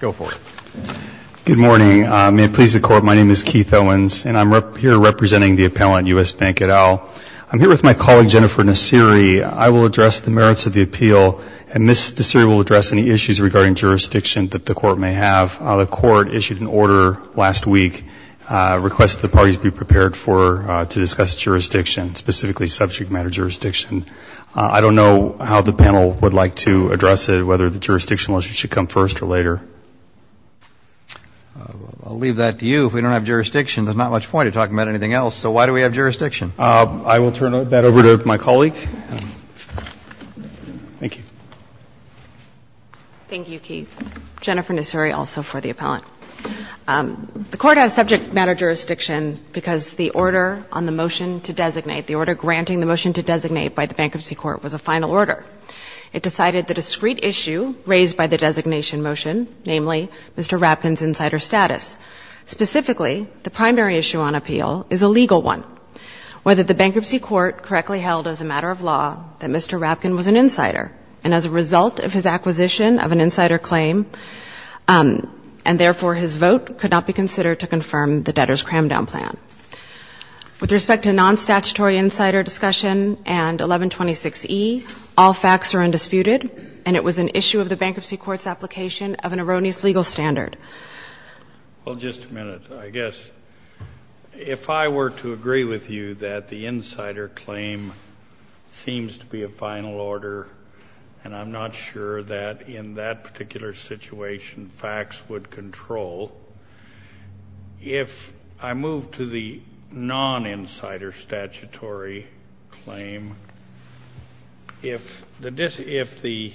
Good morning. May it please the Court, my name is Keith Owens, and I'm here representing the appellant, US Bank et al. I'm here with my colleague Jennifer Nassiri. I will address the merits of the appeal, and Ms. Nassiri will address any issues regarding jurisdiction that the Court may have. The Court issued an order last week, requesting the parties be prepared to discuss jurisdiction, specifically subject matter jurisdiction. I don't know how the panel would like to address it, whether the jurisdictional issue should come first or later. I'll leave that to you. If we don't have jurisdiction, there's not much point in talking about anything else, so why do we have jurisdiction? I will turn that over to my colleague. Thank you. Thank you, Keith. Jennifer Nassiri, also for the appellant. The Court has subject matter jurisdiction because the order on the motion to designate, the order granting the motion to designate by the Bankruptcy Court, was a final order. It decided that a discrete issue raised by the designation motion, namely Mr. Rapkin's insider status, specifically the primary issue on appeal, is a legal one. Whether the Bankruptcy Court correctly held as a matter of law that Mr. Rapkin was an insider, and as a result of his acquisition of an insider claim, and therefore his vote could not be considered to confirm the debtor's cram-down plan. With respect to non-statutory insider discussion and 1126E, all facts are undisputed, and it was an issue of the Bankruptcy Court's application of an erroneous legal standard. Well, just a minute, I guess. If I were to agree with you that the insider claim seems to be a final order, and I'm not sure that in that particular situation facts would control, if I move to the non-insider statutory claim, if the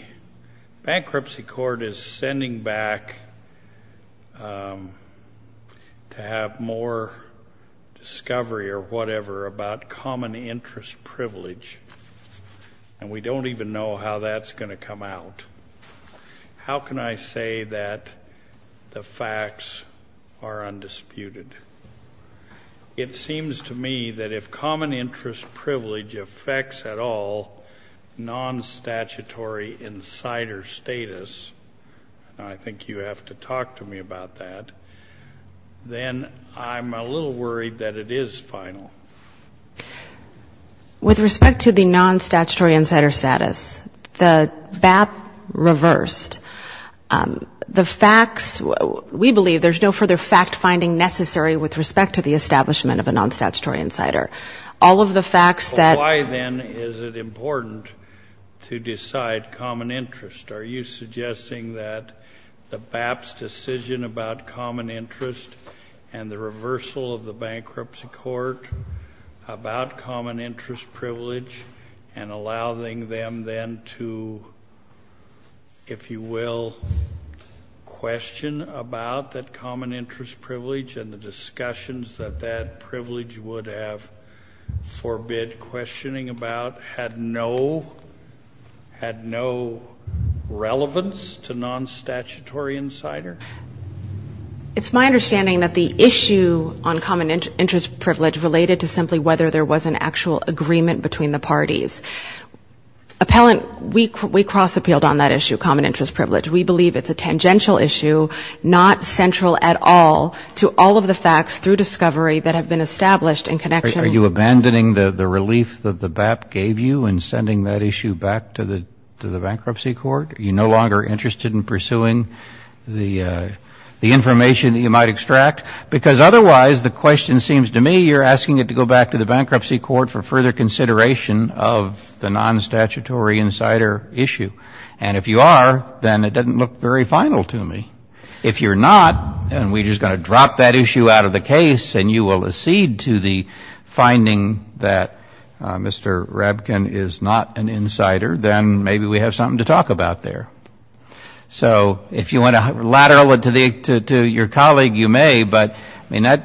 Bankruptcy Court is sending back to have more discovery or whatever about common interest privilege, and we don't even know how that's going to come out, how can I say that the facts are undisputed? It seems to me that if common interest privilege affects at all non-statutory insider status, and I think you have to talk to me about that, then I'm a little worried that it is final. With respect to the non-statutory insider status, the BAP reversed. The facts, we believe there's no further fact-finding necessary with respect to the establishment of a non-statutory insider. All of the facts that Why, then, is it important to decide common interest? Are you suggesting that the BAP's decision about common interest and the reversal of the Bankruptcy Court about common interest privilege and allowing them then to, if you will, question about that common interest privilege and the discussions that that privilege would have forbid questioning about had no relevance to non-statutory insider? It's my understanding that the issue on common interest privilege related to simply whether there was an actual agreement between the parties. Appellant, we cross-appealed on that issue, common interest privilege. We believe it's a tangential issue, not central at all to all of the facts through discovery that have been established in connection with the BAP. Are you abandoning the relief that the BAP gave you in sending that issue back to the Bankruptcy Court? Are you no longer interested in pursuing the information that you might extract? Because otherwise, the question seems to me you're asking it to go back to the Bankruptcy Court for further consideration of the non-statutory insider issue. And if you are, then it doesn't look very final to me. If you're not, and we're just going to drop that issue out of the case and you will accede to the finding that Mr. Rabkin is not an insider, then maybe we have something to talk about there. So if you want to lateral it to your colleague, you may, but I mean, I've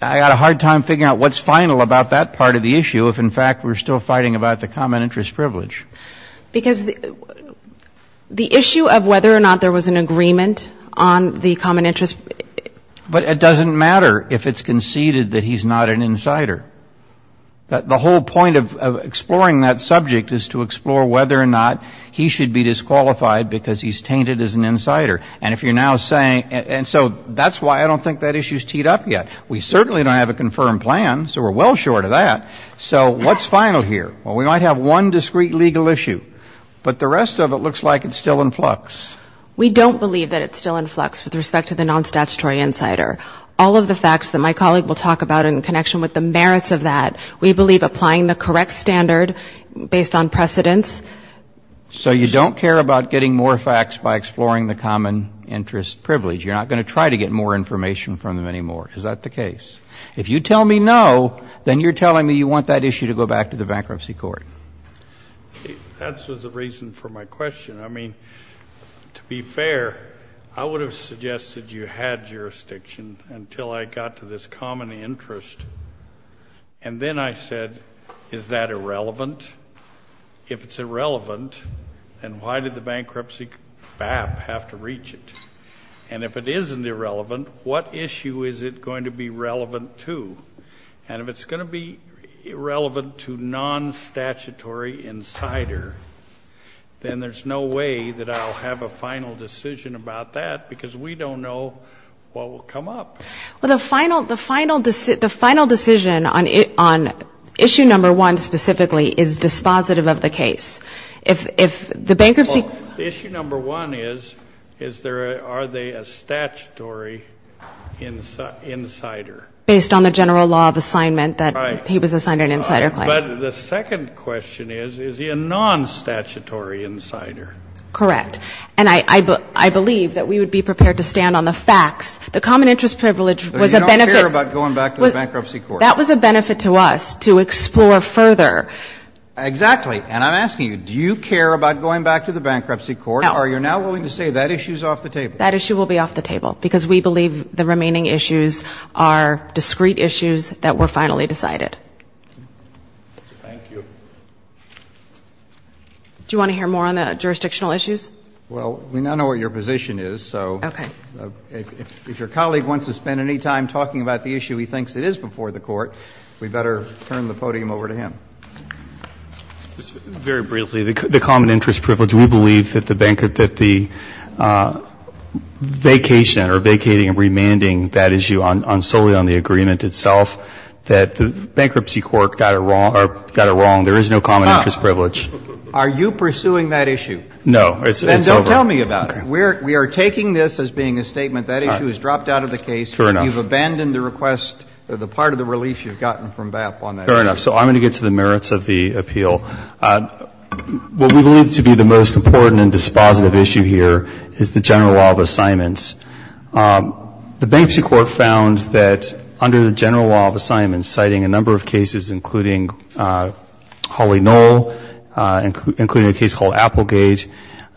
got a hard time figuring out what's final about that part of the issue if, in fact, we're still fighting about the common interest privilege. Because the issue of whether or not there was an agreement on the common interest But it doesn't matter if it's conceded that he's not an insider. The whole point of exploring that subject is to explore whether or not he should be disqualified because he's tainted as an insider. And if you're now saying, and so that's why I don't think that issue's teed up yet. We certainly don't have a confirmed plan, so we're well short of that. So what's final here? Well, we might have one discrete legal issue, but the rest of it looks like it's still in flux. We don't believe that it's still in flux with respect to the non-statutory insider. All of the facts that my colleague will talk about in connection with the merits of that, we believe applying the correct standard based on precedence. So you don't care about getting more facts by exploring the common interest privilege. You're not going to try to get more information from them anymore. Is that the case? If you tell me no, then you're telling me you want that issue to go back to the bankruptcy court. That's the reason for my question. I mean, to be fair, I would have suggested you had jurisdiction until I got to this common interest. And then I said, is that irrelevant? If it's irrelevant, then why did the bankruptcy BAP have to reach it? And if it isn't irrelevant, what issue is it going to be relevant to? And if it's going to be irrelevant to non-statutory insider, then there's no way that I'll have a final decision about that because we don't know what will come up. Well, the final decision on issue number one specifically is dispositive of the case. If the bankruptcy – Well, issue number one is, are they a statutory insider? Based on the general law of assignment that he was assigned an insider claim. But the second question is, is he a non-statutory insider? Correct. And I believe that we would be prepared to stand on the facts. The common interest privilege was a benefit – But you don't care about going back to the bankruptcy court. That was a benefit to us to explore further. Exactly. And I'm asking you, do you care about going back to the bankruptcy court? No. Are you now willing to say that issue is off the table? That issue will be off the table because we believe the remaining issues are discrete issues that were finally decided. Thank you. Do you want to hear more on the jurisdictional issues? Well, we now know what your position is, so if your colleague wants to spend any time talking about the issue he thinks it is before the court, we better turn the podium over to him. Very briefly, the common interest privilege, we believe that the vacation or vacating and remanding that issue solely on the agreement itself, that the bankruptcy court got it wrong. There is no common interest privilege. Are you pursuing that issue? No. It's over. Then don't tell me about it. We are taking this as being a statement that issue is dropped out of the case. Fair enough. You've abandoned the request, the part of the relief you've gotten from BAP on that issue. Fair enough. So I'm going to get to the merits of the appeal. What we believe to be the most important and dispositive issue here is the general law of assignments. The bankruptcy court found that under the general law of assignments, citing a number of cases, including Hawley-Knoll, including a case called Applegate,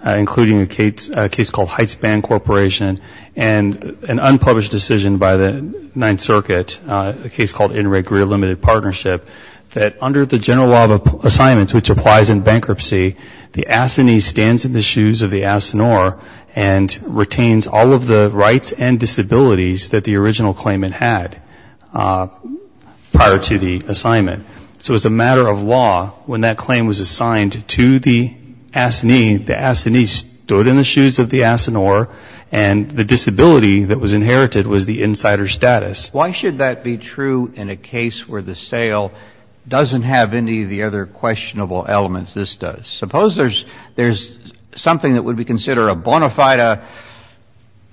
including a case called Heights Band Corporation, and an unpublished decision by the Ninth Circuit, a case called Interreg Career Limited Partnership, that under the general law of assignments, which applies in bankruptcy, the ASINEE stands in the shoes of the ASINOR and retains all of the rights and disabilities that the original claimant had prior to the assignment. So as a matter of law, when that claim was assigned to the ASINEE, the ASINEE stood in the shoes of the ASINOR, and the disability that was inherited was the insider status. Why should that be true in a case where the sale doesn't have any of the other questionable elements this does? Suppose there's something that would be considered a bona fide,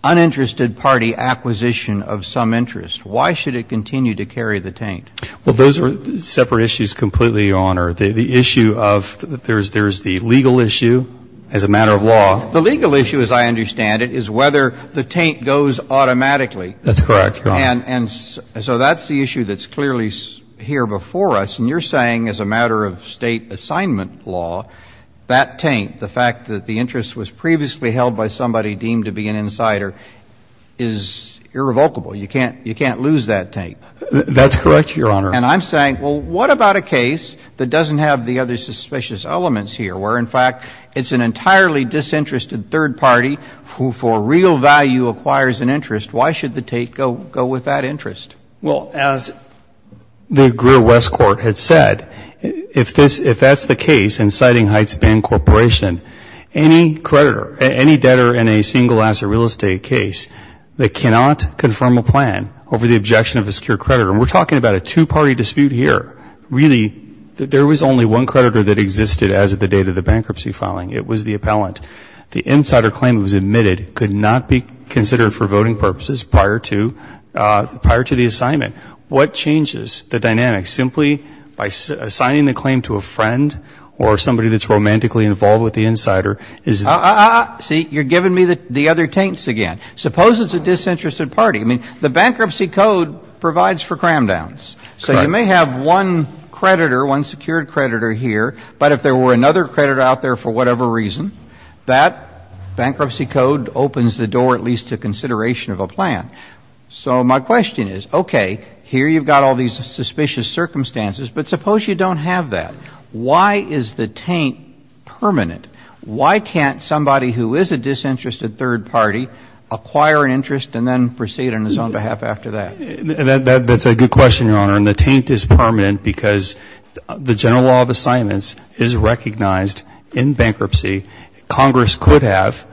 uninterested party acquisition of some interest. Why should it continue to carry the taint? Well, those are separate issues completely, Your Honor. The issue of there's the legal issue as a matter of law. The legal issue, as I understand it, is whether the taint goes automatically. That's correct. And so that's the issue that's clearly here before us. And you're saying, as a matter of State assignment law, that taint, the fact that the interest was previously held by somebody deemed to be an insider, is irrevocable. You can't lose that taint. That's correct, Your Honor. And I'm saying, well, what about a case that doesn't have the other suspicious elements here, where, in fact, it's an entirely disinterested third party who, for real value, acquires an interest? Why should the taint go with that interest? Well, as the Greer West Court had said, if that's the case in Siding Heights Ban Corporation, any creditor, any debtor in a single-asset real estate case that cannot confirm a plan over the objection of a secure creditor, and we're talking about a two-party dispute here. Really, there was only one creditor that existed as of the date of the bankruptcy filing. It was the appellant. The insider claim that was admitted could not be considered for voting purposes prior to the assignment. What changes the dynamics? Is it simply by assigning the claim to a friend or somebody that's romantically involved with the insider? See, you're giving me the other taints again. Suppose it's a disinterested party. I mean, the bankruptcy code provides for cram downs. So you may have one creditor, one secured creditor here, but if there were another creditor out there for whatever reason, that bankruptcy code opens the door at least to consideration of a plan. So my question is, okay, here you've got all these suspicious circumstances, but suppose you don't have that. Why is the taint permanent? Why can't somebody who is a disinterested third party acquire an interest and then proceed on his own behalf after that? That's a good question, Your Honor, and the taint is permanent because the general law of assignments is recognized in bankruptcy. Congress could have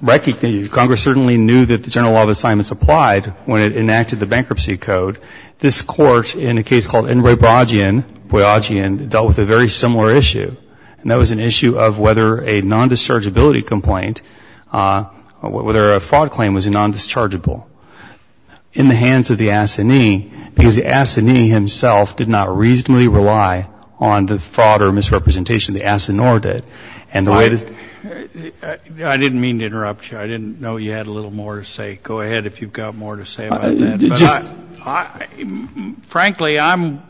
recognized it. Congress certainly knew that the general law of assignments applied when it enacted the bankruptcy code. This court, in a case called Enroy Boyajian, dealt with a very similar issue. And that was an issue of whether a non-dischargeability complaint, whether a fraud claim was non-dischargeable in the hands of the assignee, because the assignee himself did not reasonably rely on the fraud or misrepresentation. The assignor did. I didn't mean to interrupt you. I didn't know you had a little more to say. Go ahead if you've got more to say about that. Frankly, I'm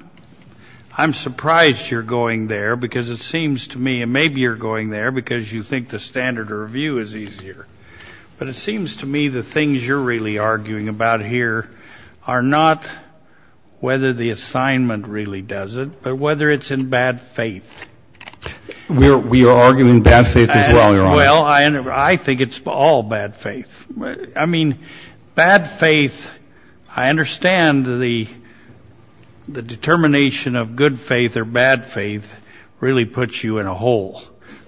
surprised you're going there because it seems to me, and maybe you're going there because you think the standard of review is easier. But it seems to me the things you're really arguing about here are not whether the assignment really does it, but whether it's in bad faith. We are arguing bad faith as well, Your Honor. Well, I think it's all bad faith. I mean, bad faith, I understand the determination of good faith or bad faith really puts you in a hole.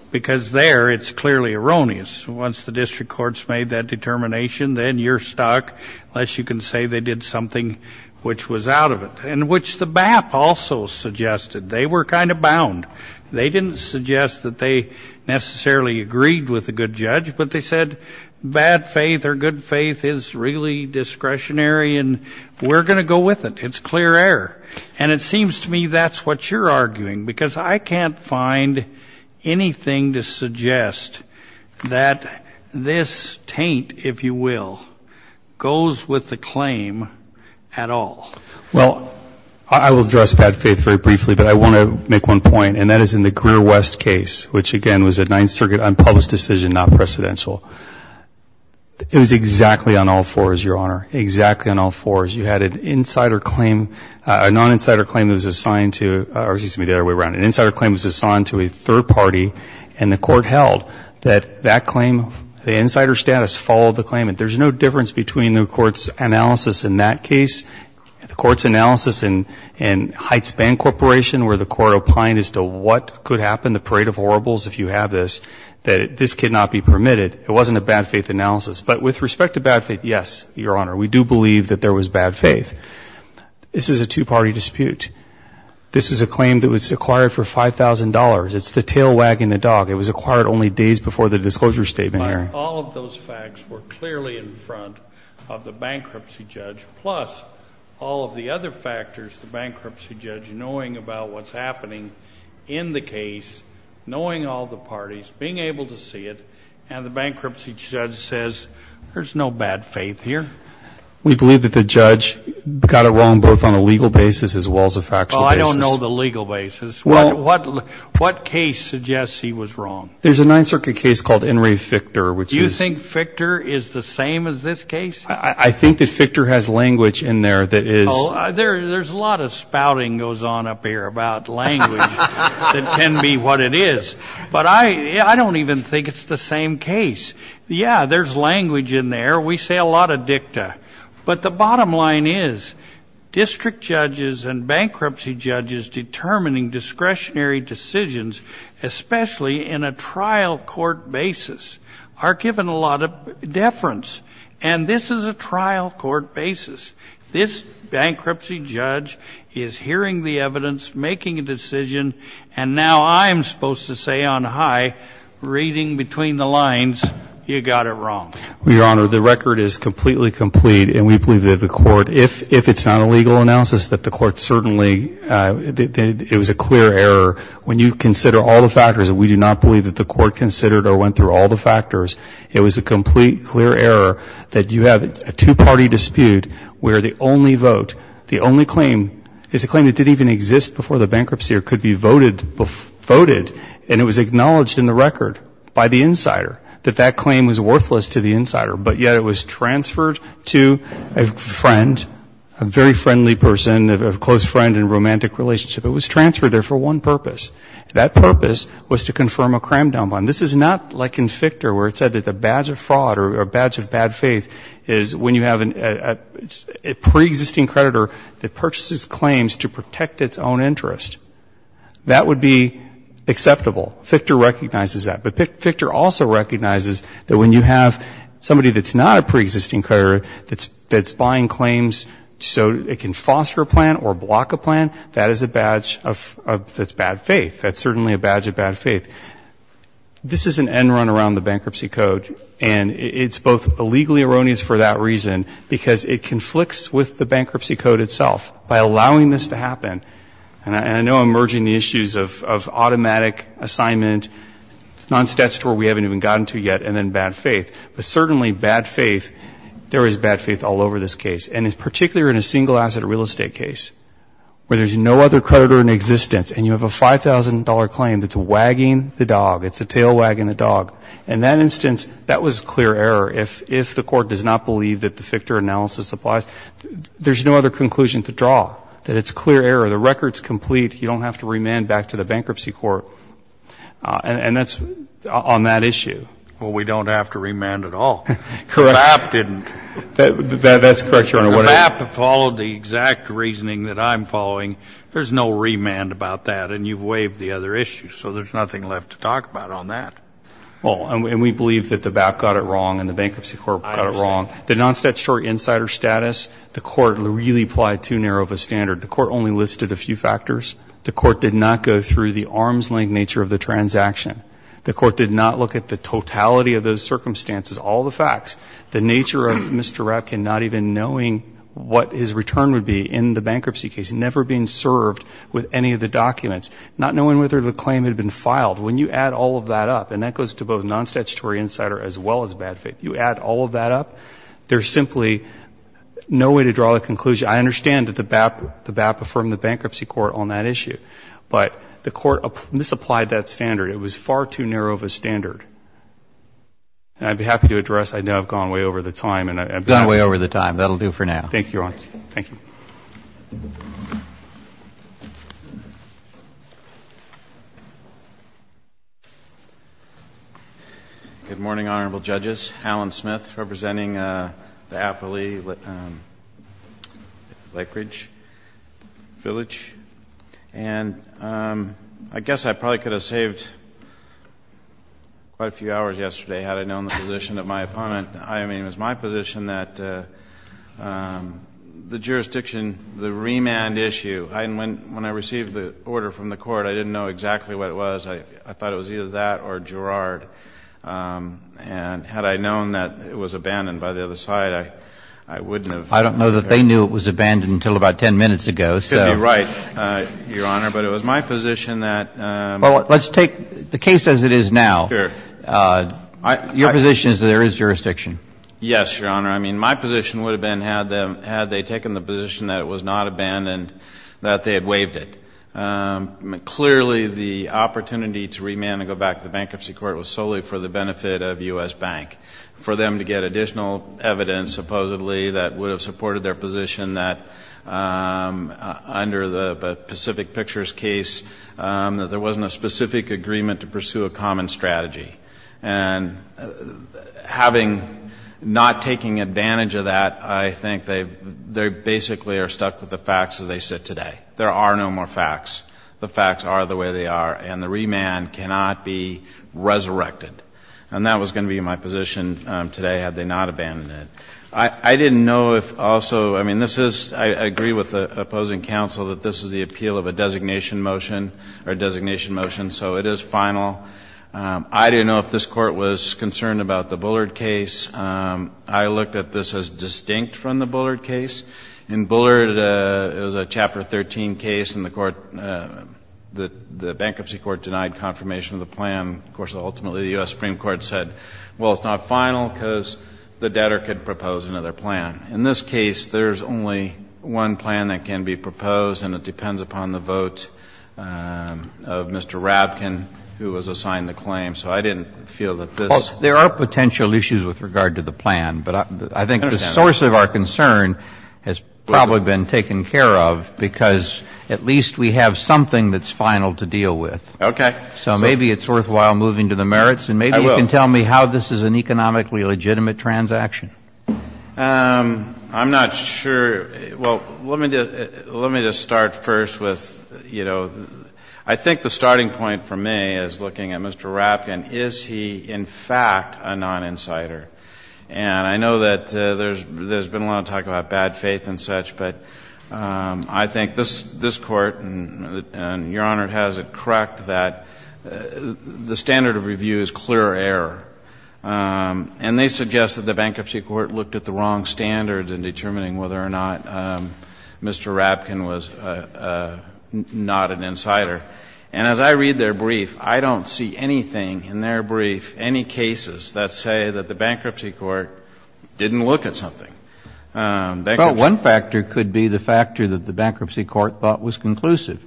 Because there, it's clearly erroneous. Once the district courts made that determination, then you're stuck unless you can say they did something which was out of it. Which the BAP also suggested. They were kind of bound. They didn't suggest that they necessarily agreed with a good judge, but they said bad faith or good faith is really discretionary and we're going to go with it. It's clear error. And it seems to me that's what you're arguing. Because I can't find anything to suggest that this taint, if you will, goes with the claim at all. Well, I will address bad faith very briefly, but I want to make one point. And that is in the Greer West case, which again was a Ninth Circuit unpublished decision, not precedential. It was exactly on all fours, Your Honor. Exactly on all fours. You had an insider claim, a non-insider claim that was assigned to, or excuse me, the other way around. An insider claim that was assigned to a third party and the court held that that claim, the insider status followed the claim. There's no difference between the court's analysis in that case, the court's analysis in Heights Band Corporation where the court opined as to what could happen, the parade of horribles if you have this, that this cannot be permitted. It wasn't a bad faith analysis. But with respect to bad faith, yes, Your Honor, we do believe that there was bad faith. This is a two-party dispute. This is a claim that was acquired for $5,000. It's the tail wagging the dog. It was acquired only days before the disclosure statement hearing. All of those facts were clearly in front of the bankruptcy judge, plus all of the other factors, the bankruptcy judge knowing about what's happening in the case, knowing all the parties, being able to see it, and the bankruptcy judge says, there's no bad faith here. We believe that the judge got it wrong both on a legal basis as well as a factual basis. Well, I don't know the legal basis. Well. What case suggests he was wrong? Do you think Fichter is the same as this case? I think that Fichter has language in there that is. There's a lot of spouting goes on up here about language that can be what it is. But I don't even think it's the same case. Yeah, there's language in there. We say a lot of dicta. But the bottom line is, district judges and bankruptcy judges determining discretionary decisions, especially in a trial court basis, are capable of giving a lot of deference. And this is a trial court basis. This bankruptcy judge is hearing the evidence, making a decision, and now I'm supposed to say on high, reading between the lines, you got it wrong. Well, Your Honor, the record is completely complete. And we believe that the court, if it's not a legal analysis, that the court certainly, it was a clear error. When you consider all the factors, we do not believe that the court considered or went through all the factors. It was a complete, clear error that you have a two-party dispute where the only vote, the only claim is a claim that didn't even exist before the bankruptcy or could be voted. And it was acknowledged in the record by the insider that that claim was worthless to the insider. But yet it was transferred to a friend, a very friendly person, a close friend in a romantic relationship. That purpose was to confirm a crime down bond. This is not like in Fichter where it said that the badge of fraud or badge of bad faith is when you have a pre-existing creditor that purchases claims to protect its own interest. That would be acceptable. Fichter recognizes that. But Fichter also recognizes that when you have somebody that's not a pre-existing creditor that's buying claims so it can foster a plan or block a plan, that is a badge that's bad faith. That's certainly a badge of bad faith. This is an end run around the bankruptcy code. And it's both illegally erroneous for that reason because it conflicts with the bankruptcy code itself. By allowing this to happen, and I know I'm merging the issues of automatic assignment, non-statutory we haven't even gotten to yet, and then bad faith. But certainly bad faith, there is bad faith all over this case. And it's particularly in a single asset real estate case where there's no other creditor in existence. And you have a $5,000 claim that's wagging the dog. It's a tail wagging the dog. In that instance, that was clear error. If the Court does not believe that the Fichter analysis applies, there's no other conclusion to draw, that it's clear error. The record's complete. You don't have to remand back to the bankruptcy court. And that's on that issue. Well, we don't have to remand at all. Correct. The BAP didn't. That's correct, Your Honor. For the BAP to follow the exact reasoning that I'm following, there's no remand about that. And you've waived the other issue. So there's nothing left to talk about on that. Well, and we believe that the BAP got it wrong and the bankruptcy court got it wrong. I understand. The non-statutory insider status, the Court really applied too narrow of a standard. The Court only listed a few factors. The Court did not go through the arm's length nature of the transaction. The Court did not look at the totality of those circumstances, all the facts. The nature of Mr. Rapkin not even knowing what his return would be in the documents, not knowing whether the claim had been filed. When you add all of that up, and that goes to both non-statutory insider as well as bad faith, you add all of that up, there's simply no way to draw a conclusion. I understand that the BAP affirmed the bankruptcy court on that issue. But the Court misapplied that standard. It was far too narrow of a standard. And I'd be happy to address. I know I've gone way over the time. Gone way over the time. That'll do for now. Thank you, Your Honor. Thank you. Good morning, Honorable Judges. Alan Smith, representing the Appalachian Lake Ridge Village. And I guess I probably could have saved quite a few hours yesterday had I known the position of my opponent. I mean, it was my position that the jurors didn't have the right to decide Thank you. Thank you, Your Honor. Thank you. the remand issue. When I received the order from the Court, I didn't know exactly what it was. I thought it was either that or Girard. And had I known that it was abandoned by the other side, I wouldn't have I don't know that they knew it was abandoned until about 10 minutes ago. Could be right, Your Honor. But it was my position that Well, let's take the case as it is now. Sure. Your position is that there is jurisdiction. Yes, Your Honor. My position would have been had they taken the position that it was not abandoned, that they had waived it. Clearly, the opportunity to remand and go back to the bankruptcy court was solely for the benefit of U.S. Bank. For them to get additional evidence, supposedly, that would have supported their position that under the Pacific Pictures case, that there wasn't a specific agreement to pursue a common strategy. And not taking advantage of that, I think they basically are stuck with the facts as they sit today. There are no more facts. The facts are the way they are. And the remand cannot be resurrected. And that was going to be my position today, had they not abandoned it. I didn't know if also I mean, this is I agree with the opposing counsel that this is the appeal of a designation motion or designation motion, so it is final. I didn't know if this Court was concerned about the Bullard case. I looked at this as distinct from the Bullard case. In Bullard, it was a Chapter 13 case and the court the bankruptcy court denied confirmation of the plan. Of course, ultimately, the U.S. Supreme Court said, well, it's not final because the debtor could propose another plan. In this case, there's only one plan that can be proposed and it depends upon the vote of Mr. Rabkin who was assigned the claim. So I didn't feel that this Well, there are potential issues with regard to the plan. But I think the source of our concern has probably been taken care of because at least we have something that's final to deal with. Okay. So maybe it's worthwhile moving to the merits. I will. And maybe you can tell me how this is an economically legitimate transaction. I'm not sure. Well, let me just start first with, you know, I think the starting point for me is looking at Mr. Rabkin. Is he, in fact, a non-insider? And I know that there's been a lot of talk about bad faith and such, but I think this court and Your Honor has it correct that the standard of review is clear error. And they suggest that the bankruptcy court looked at the wrong standards And as I read their brief, I don't see anything in their brief, any cases that say that the bankruptcy court didn't look at something. Well, one factor could be the factor that the bankruptcy court thought was conclusive,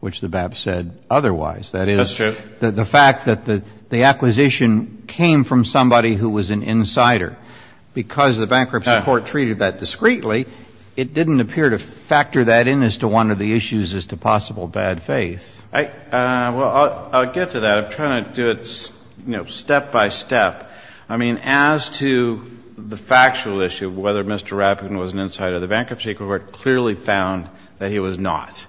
which the BAP said otherwise. That is, the fact that the acquisition came from somebody who was an insider. Because the bankruptcy court treated that discreetly, it didn't appear to factor that in as to one of the issues as to possible bad faith. Well, I'll get to that. I'm trying to do it, you know, step by step. I mean, as to the factual issue of whether Mr. Rabkin was an insider, the bankruptcy court clearly found that he was not.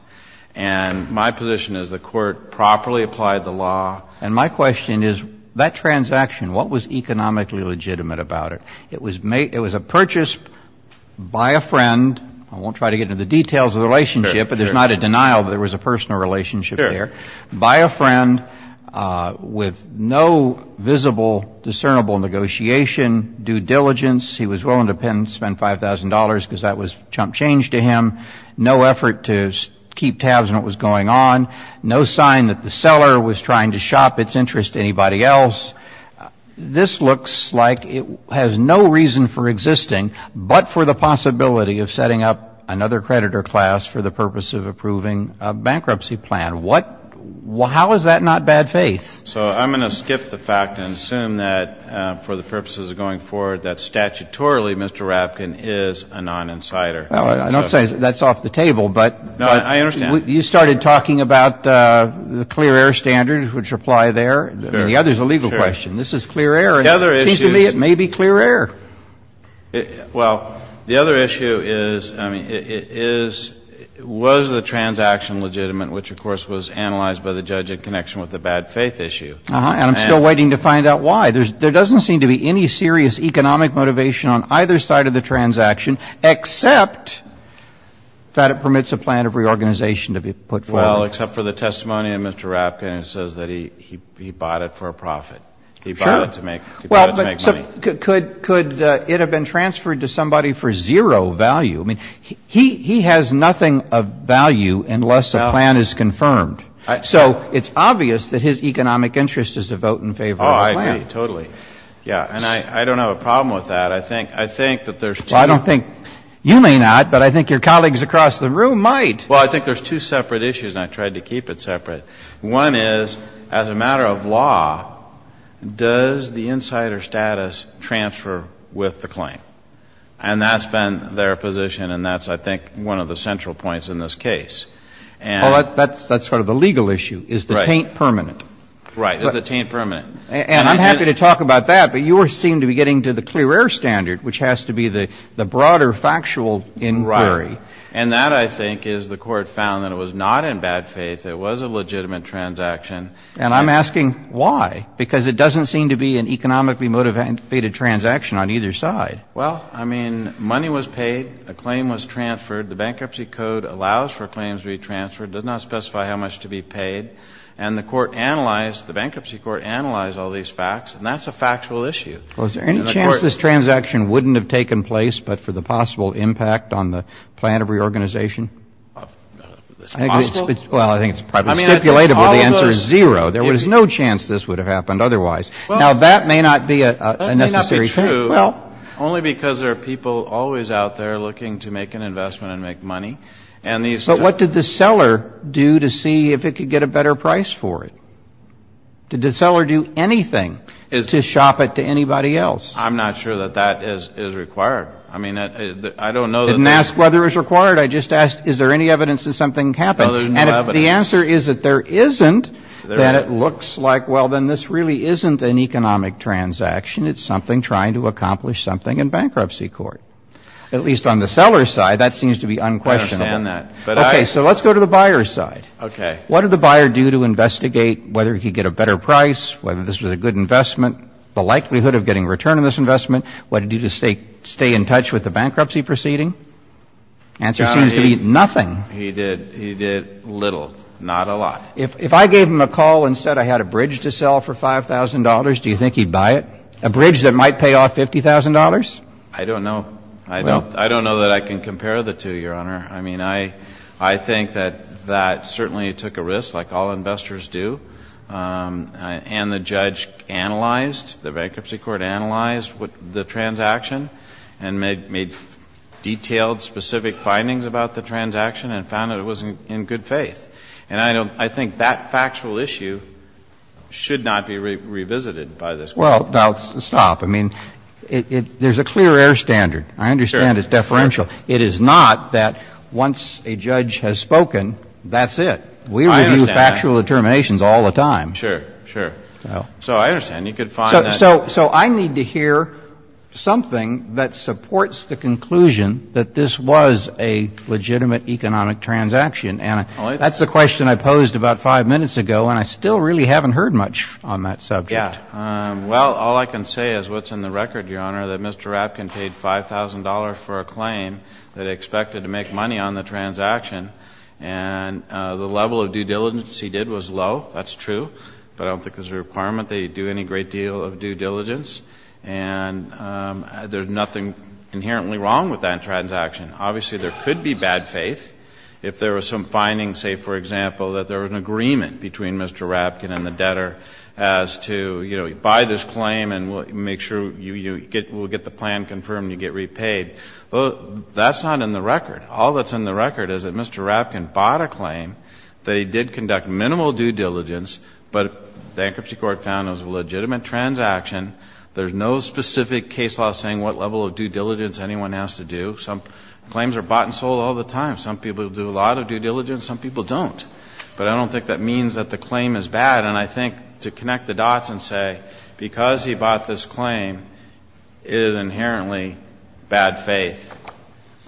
And my position is the court properly applied the law. And my question is, that transaction, what was economically legitimate about it? It was a purchase by a friend. I won't try to get into the details of the relationship, but there's not a denial that there was a personal relationship there. By a friend with no visible, discernible negotiation, due diligence. He was willing to spend $5,000 because that was chump change to him. No effort to keep tabs on what was going on. No sign that the seller was trying to shop its interest to anybody else. This looks like it has no reason for existing, but for the possibility of setting up another creditor class for the purpose of approving a bankruptcy plan. How is that not bad faith? So I'm going to skip the fact and assume that for the purposes of going forward, that statutorily Mr. Rabkin is a non-insider. I don't say that's off the table, but you started talking about the clear air standards, which apply there. The other is a legal question. This is clear air. It seems to me it may be clear air. Well, the other issue is was the transaction legitimate, which of course was analyzed by the judge in connection with the bad faith issue. And I'm still waiting to find out why. There doesn't seem to be any serious economic motivation on either side of the transaction except that it permits a plan of reorganization to be put forward. Well, except for the testimony of Mr. Rabkin, it says that he bought it for a profit. Sure. He bought it to make money. Could it have been transferred to somebody for zero value? I mean, he has nothing of value unless a plan is confirmed. So it's obvious that his economic interest is to vote in favor of the plan. Oh, I agree. Totally. Yeah. And I don't have a problem with that. I think that there's two. Well, I don't think you may not, but I think your colleagues across the room might. Well, I think there's two separate issues, and I tried to keep it separate. One is, as a matter of law, does the insider status transfer with the claim? And that's been their position, and that's, I think, one of the central points in this case. Well, that's sort of the legal issue. Is the taint permanent? Right. Is the taint permanent? And I'm happy to talk about that, but you seem to be getting to the clear air standard, which has to be the broader factual inquiry. Right. And that, I think, is the court found that it was not in bad faith. It was a legitimate transaction. And I'm asking why, because it doesn't seem to be an economically motivated transaction on either side. Well, I mean, money was paid. A claim was transferred. The Bankruptcy Code allows for claims to be transferred. It does not specify how much to be paid. And the court analyzed, the Bankruptcy Court analyzed all these facts, and that's a factual issue. Well, is there any chance this transaction wouldn't have taken place but for the possible impact on the plan of reorganization? It's possible? Well, I think it's probably stipulated that the answer is zero. There was no chance this would have happened otherwise. Now, that may not be a necessary trait. Well, that may not be true, only because there are people always out there looking to make an investment and make money. But what did the seller do to see if it could get a better price for it? Did the seller do anything to shop it to anybody else? I'm not sure that that is required. I mean, I don't know. Didn't ask whether it was required. I just asked is there any evidence that something happened? And if the answer is that there isn't, then it looks like, well, then this really isn't an economic transaction. It's something trying to accomplish something in Bankruptcy Court. At least on the seller's side, that seems to be unquestionable. I understand that. Okay. So let's go to the buyer's side. Okay. What did the buyer do to investigate whether he could get a better price, whether this was a good investment, the likelihood of getting a return on this investment? What did he do to stay in touch with the bankruptcy proceeding? The answer seems to be nothing. He did little, not a lot. If I gave him a call and said I had a bridge to sell for $5,000, do you think he'd buy it? A bridge that might pay off $50,000? I don't know. I don't know that I can compare the two, Your Honor. I mean, I think that that certainly took a risk, like all investors do. And the judge analyzed, the Bankruptcy Court analyzed the transaction and made detailed, specific findings about the transaction and found that it was in good faith. And I think that factual issue should not be revisited by this Court. Well, now, stop. I mean, there's a clear air standard. I understand it's deferential. It is not that once a judge has spoken, that's it. I understand that. But there are factual determinations all the time. Sure, sure. So I understand. You could find that. So I need to hear something that supports the conclusion that this was a legitimate economic transaction. And that's the question I posed about five minutes ago, and I still really haven't heard much on that subject. Yeah. Well, all I can say is what's in the record, Your Honor, that Mr. Rapkin paid $5,000 for a claim that expected to make money on the transaction. And the level of due diligence he did was low. That's true. But I don't think there's a requirement that he do any great deal of due diligence. And there's nothing inherently wrong with that transaction. Obviously, there could be bad faith. If there was some finding, say, for example, that there was an agreement between Mr. Rapkin and the debtor as to, you know, buy this claim and we'll make sure you get, we'll get the plan confirmed and you get repaid. That's not in the record. All that's in the record is that Mr. Rapkin bought a claim that he did conduct minimal due diligence, but the bankruptcy court found it was a legitimate transaction. There's no specific case law saying what level of due diligence anyone has to do. Some claims are bought and sold all the time. Some people do a lot of due diligence. Some people don't. But I don't think that means that the claim is bad. And I think to connect the dots and say, because he bought this claim, it is inherently bad faith.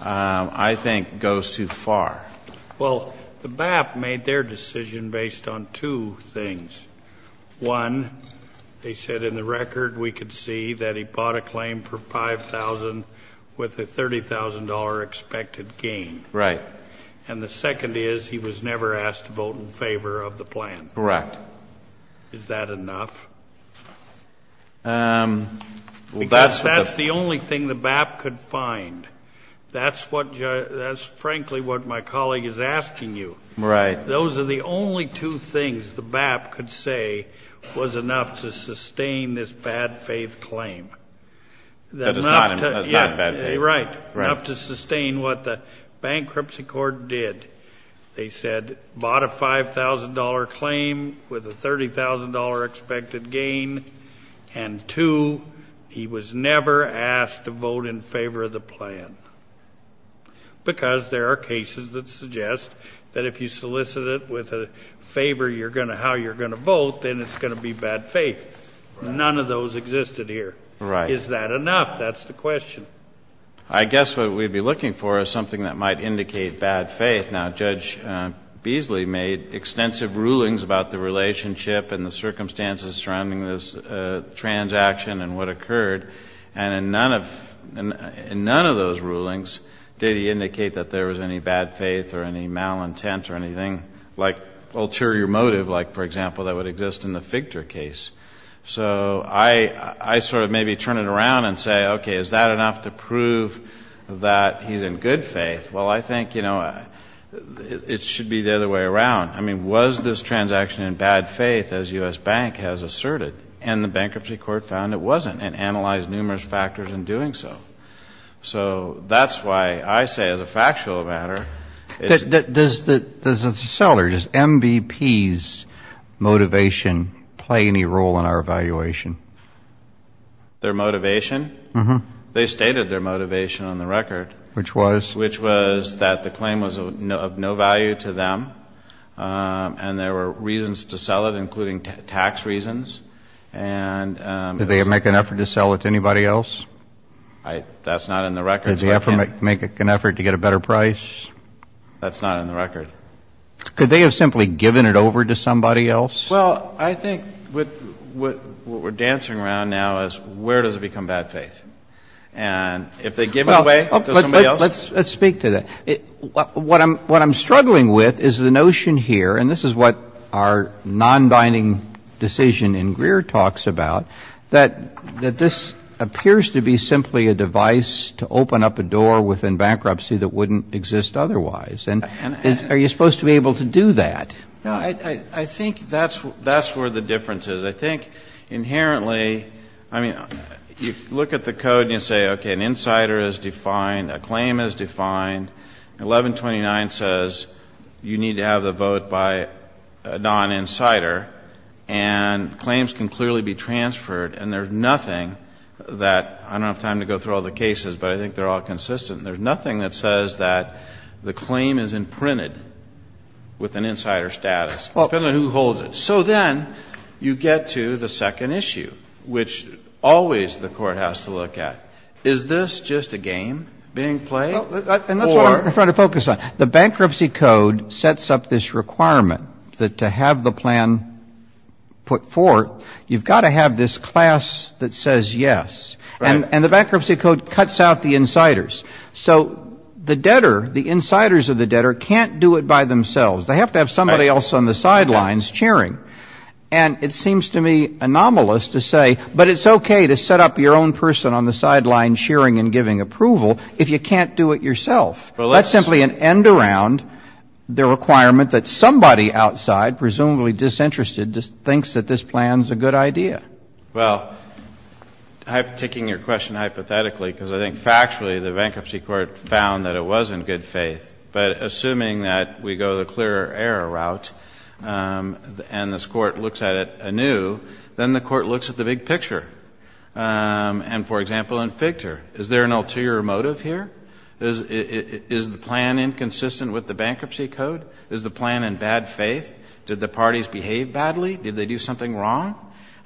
I think goes too far. Well, the BAP made their decision based on two things. One, they said in the record we could see that he bought a claim for $5,000 with a $30,000 expected gain. Right. And the second is he was never asked to vote in favor of the plan. Correct. Is that enough? That's the only thing the BAP could find. That's frankly what my colleague is asking you. Right. Those are the only two things the BAP could say was enough to sustain this bad faith claim. That is not bad faith. Right. Enough to sustain what the bankruptcy court did. They said bought a $5,000 claim with a $30,000 expected gain. And two, he was never asked to vote in favor of the plan. Because there are cases that suggest that if you solicit it with a favor how you're going to vote, then it's going to be bad faith. None of those existed here. Right. Is that enough? That's the question. I guess what we'd be looking for is something that might indicate bad faith. Now, Judge Beasley made extensive rulings about the relationship and the circumstances surrounding this transaction and what occurred. And in none of those rulings did he indicate that there was any bad faith or any malintent or anything like ulterior motive, like, for example, that would exist in the Fichter case. So I sort of maybe turn it around and say, okay, is that enough to prove that he's in good faith? Well, I think, you know, it should be the other way around. I mean, was this transaction in bad faith, as U.S. Bank has asserted? And the bankruptcy court found it wasn't and analyzed numerous factors in doing so. So that's why I say, as a factual matter, it's... Does the seller, does MVP's motivation play any role in our evaluation? Their motivation? They stated their motivation on the record. Which was? Which was that the claim was of no value to them and there were reasons to sell it, including tax reasons. And... Did they make an effort to sell it to anybody else? That's not in the record. Did they ever make an effort to get a better price? That's not in the record. Could they have simply given it over to somebody else? Well, I think what we're dancing around now is where does it become bad faith? And if they give it away to somebody else... Let's speak to that. What I'm struggling with is the notion here, and this is what our non-binding decision in Greer talks about, that this appears to be simply a device to open up a door within bankruptcy that wouldn't exist otherwise. And are you supposed to be able to do that? I think that's where the difference is. But I think inherently... I mean, you look at the code and you say, okay, an insider is defined, a claim is defined. 1129 says you need to have the vote by a non-insider. And claims can clearly be transferred. And there's nothing that... I don't have time to go through all the cases, but I think they're all consistent. There's nothing that says that the claim is imprinted with an insider status, depending on who holds it. So then you get to the second issue, which always the court has to look at. Is this just a game being played? And that's what I'm trying to focus on. The bankruptcy code sets up this requirement that to have the plan put forth, you've got to have this class that says yes. And the bankruptcy code cuts out the insiders. So the debtor, the insiders of the debtor, can't do it by themselves. They have to have somebody else on the sidelines chairing. And it seems to me anomalous to say, but it's okay to set up your own person on the sidelines chairing and giving approval if you can't do it yourself. That's simply an end around the requirement that somebody outside, presumably disinterested, thinks that this plan's a good idea. Well, I'm taking your question hypothetically because I think factually the bankruptcy court found that it was in good faith. But assuming that we go the clear error route and this court looks at it anew, then the court looks at the big picture. And, for example, in FIGTER, is there an ulterior motive here? Is the plan inconsistent with the bankruptcy code? Is the plan in bad faith? Did the parties behave badly? Did they do something wrong?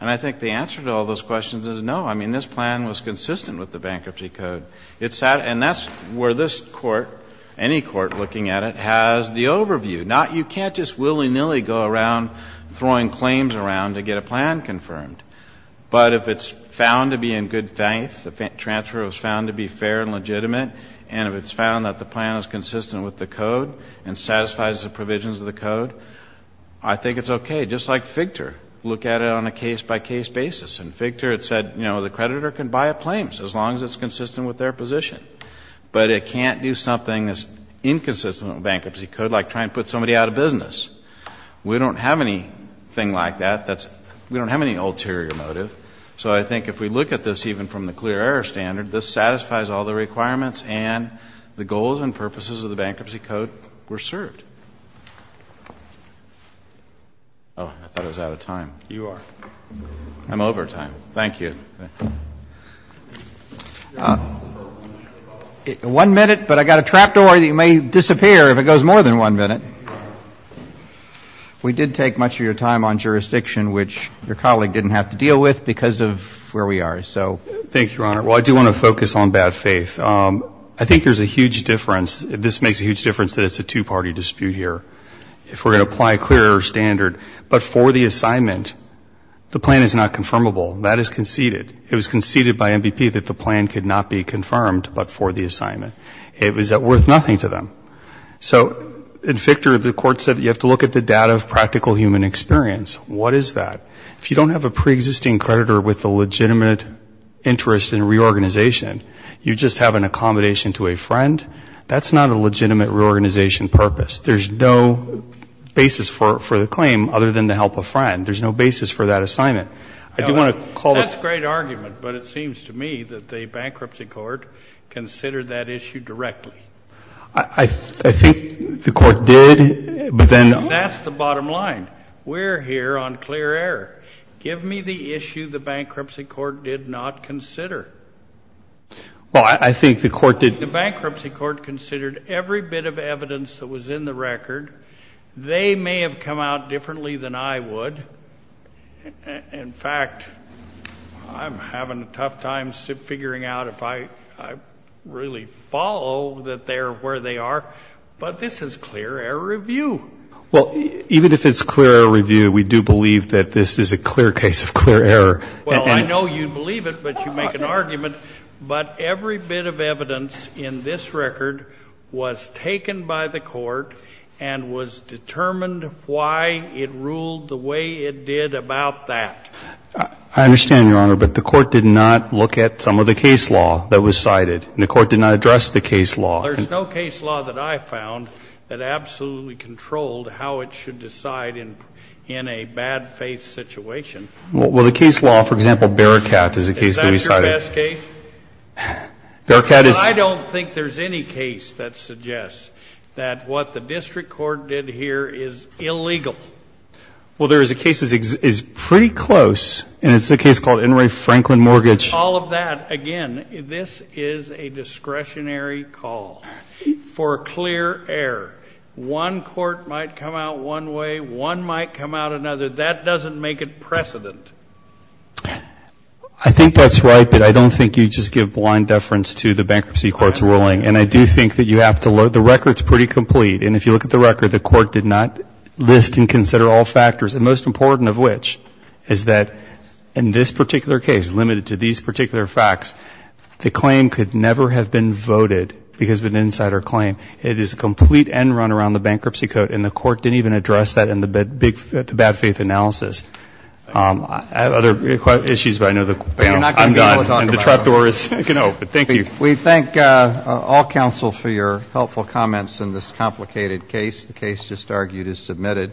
And I think the answer to all those questions is no. I mean, this plan was consistent with the bankruptcy code. And that's where this court, any court looking at it, has the overview. You can't just willy-nilly go around throwing claims around to get a plan confirmed. But if it's found to be in good faith, the transfer was found to be fair and legitimate, and if it's found that the plan is consistent with the code and satisfies the provisions of the code, I think it's okay. Just like FIGTER, look at it on a case-by-case basis. In FIGTER, it said, you know, the creditor can buy a claim as long as it's consistent with their position. But it can't do something that's inconsistent with bankruptcy code, like try and put somebody out of business. We don't have anything like that. We don't have any ulterior motive. So I think if we look at this even from the clear error standard, this satisfies all the requirements and the goals and purposes of the bankruptcy code were served. Oh, I thought I was out of time. You are. I'm over time. Thank you. One minute, but I've got a trap door that you may disappear if it goes more than one minute. We did take much of your time on jurisdiction, which your colleague didn't have to deal with because of where we are, so. Thank you, Your Honor. Well, I do want to focus on bad faith. I think there's a huge difference. This makes a huge difference that it's a two-party dispute here. If we're going to apply a clear error standard, but for the assignment, the plan is not confirmable. That is conceded. It was conceded by MBP that the plan could not be confirmed, but for the assignment. It was worth nothing to them. So in Fichter, the court said you have to look at the data of practical human experience. What is that? If you don't have a preexisting creditor with a legitimate interest in reorganization, you just have an accommodation to a friend, that's not a legitimate reorganization purpose. There's no basis for the claim other than to help a friend. There's no basis for that assignment. I do want to call it. That's a great argument, but it seems to me that the bankruptcy court considered that issue directly. I think the court did, but then. That's the bottom line. We're here on clear error. Give me the issue the bankruptcy court did not consider. Well, I think the court did. I think the bankruptcy court considered every bit of evidence that was in the record. They may have come out differently than I would. In fact, I'm having a tough time figuring out if I really follow that they're where they are. But this is clear error review. Well, even if it's clear error review, we do believe that this is a clear case of clear error. Well, I know you believe it, but you make an argument. But every bit of evidence in this record was taken by the court and was determined why it ruled the way it did about that. I understand, Your Honor, but the court did not look at some of the case law that was cited. The court did not address the case law. There's no case law that I found that absolutely controlled how it should decide in a bad faith situation. Well, the case law, for example, Bearcat is a case that we cited. Is that the best case? I don't think there's any case that suggests that what the district court did here is illegal. Well, there is a case that is pretty close, and it's a case called Enroy Franklin Mortgage. All of that, again, this is a discretionary call for clear error. One court might come out one way, one might come out another. That doesn't make it precedent. I think that's right, but I don't think you just give blind deference to the bankruptcy court's ruling. And I do think that you have to look, the record's pretty complete. And if you look at the record, the court did not list and consider all factors, the most important of which is that in this particular case, limited to these particular facts, the claim could never have been voted because of an insider claim. It is a complete end run around the bankruptcy code, and the court didn't even address that in the bad faith analysis. I have other issues, but I know the panel, I'm done. But you're not going to be able to talk about them. And the trapdoor is open. Thank you. We thank all counsel for your helpful comments in this complicated case. The case just argued is submitted.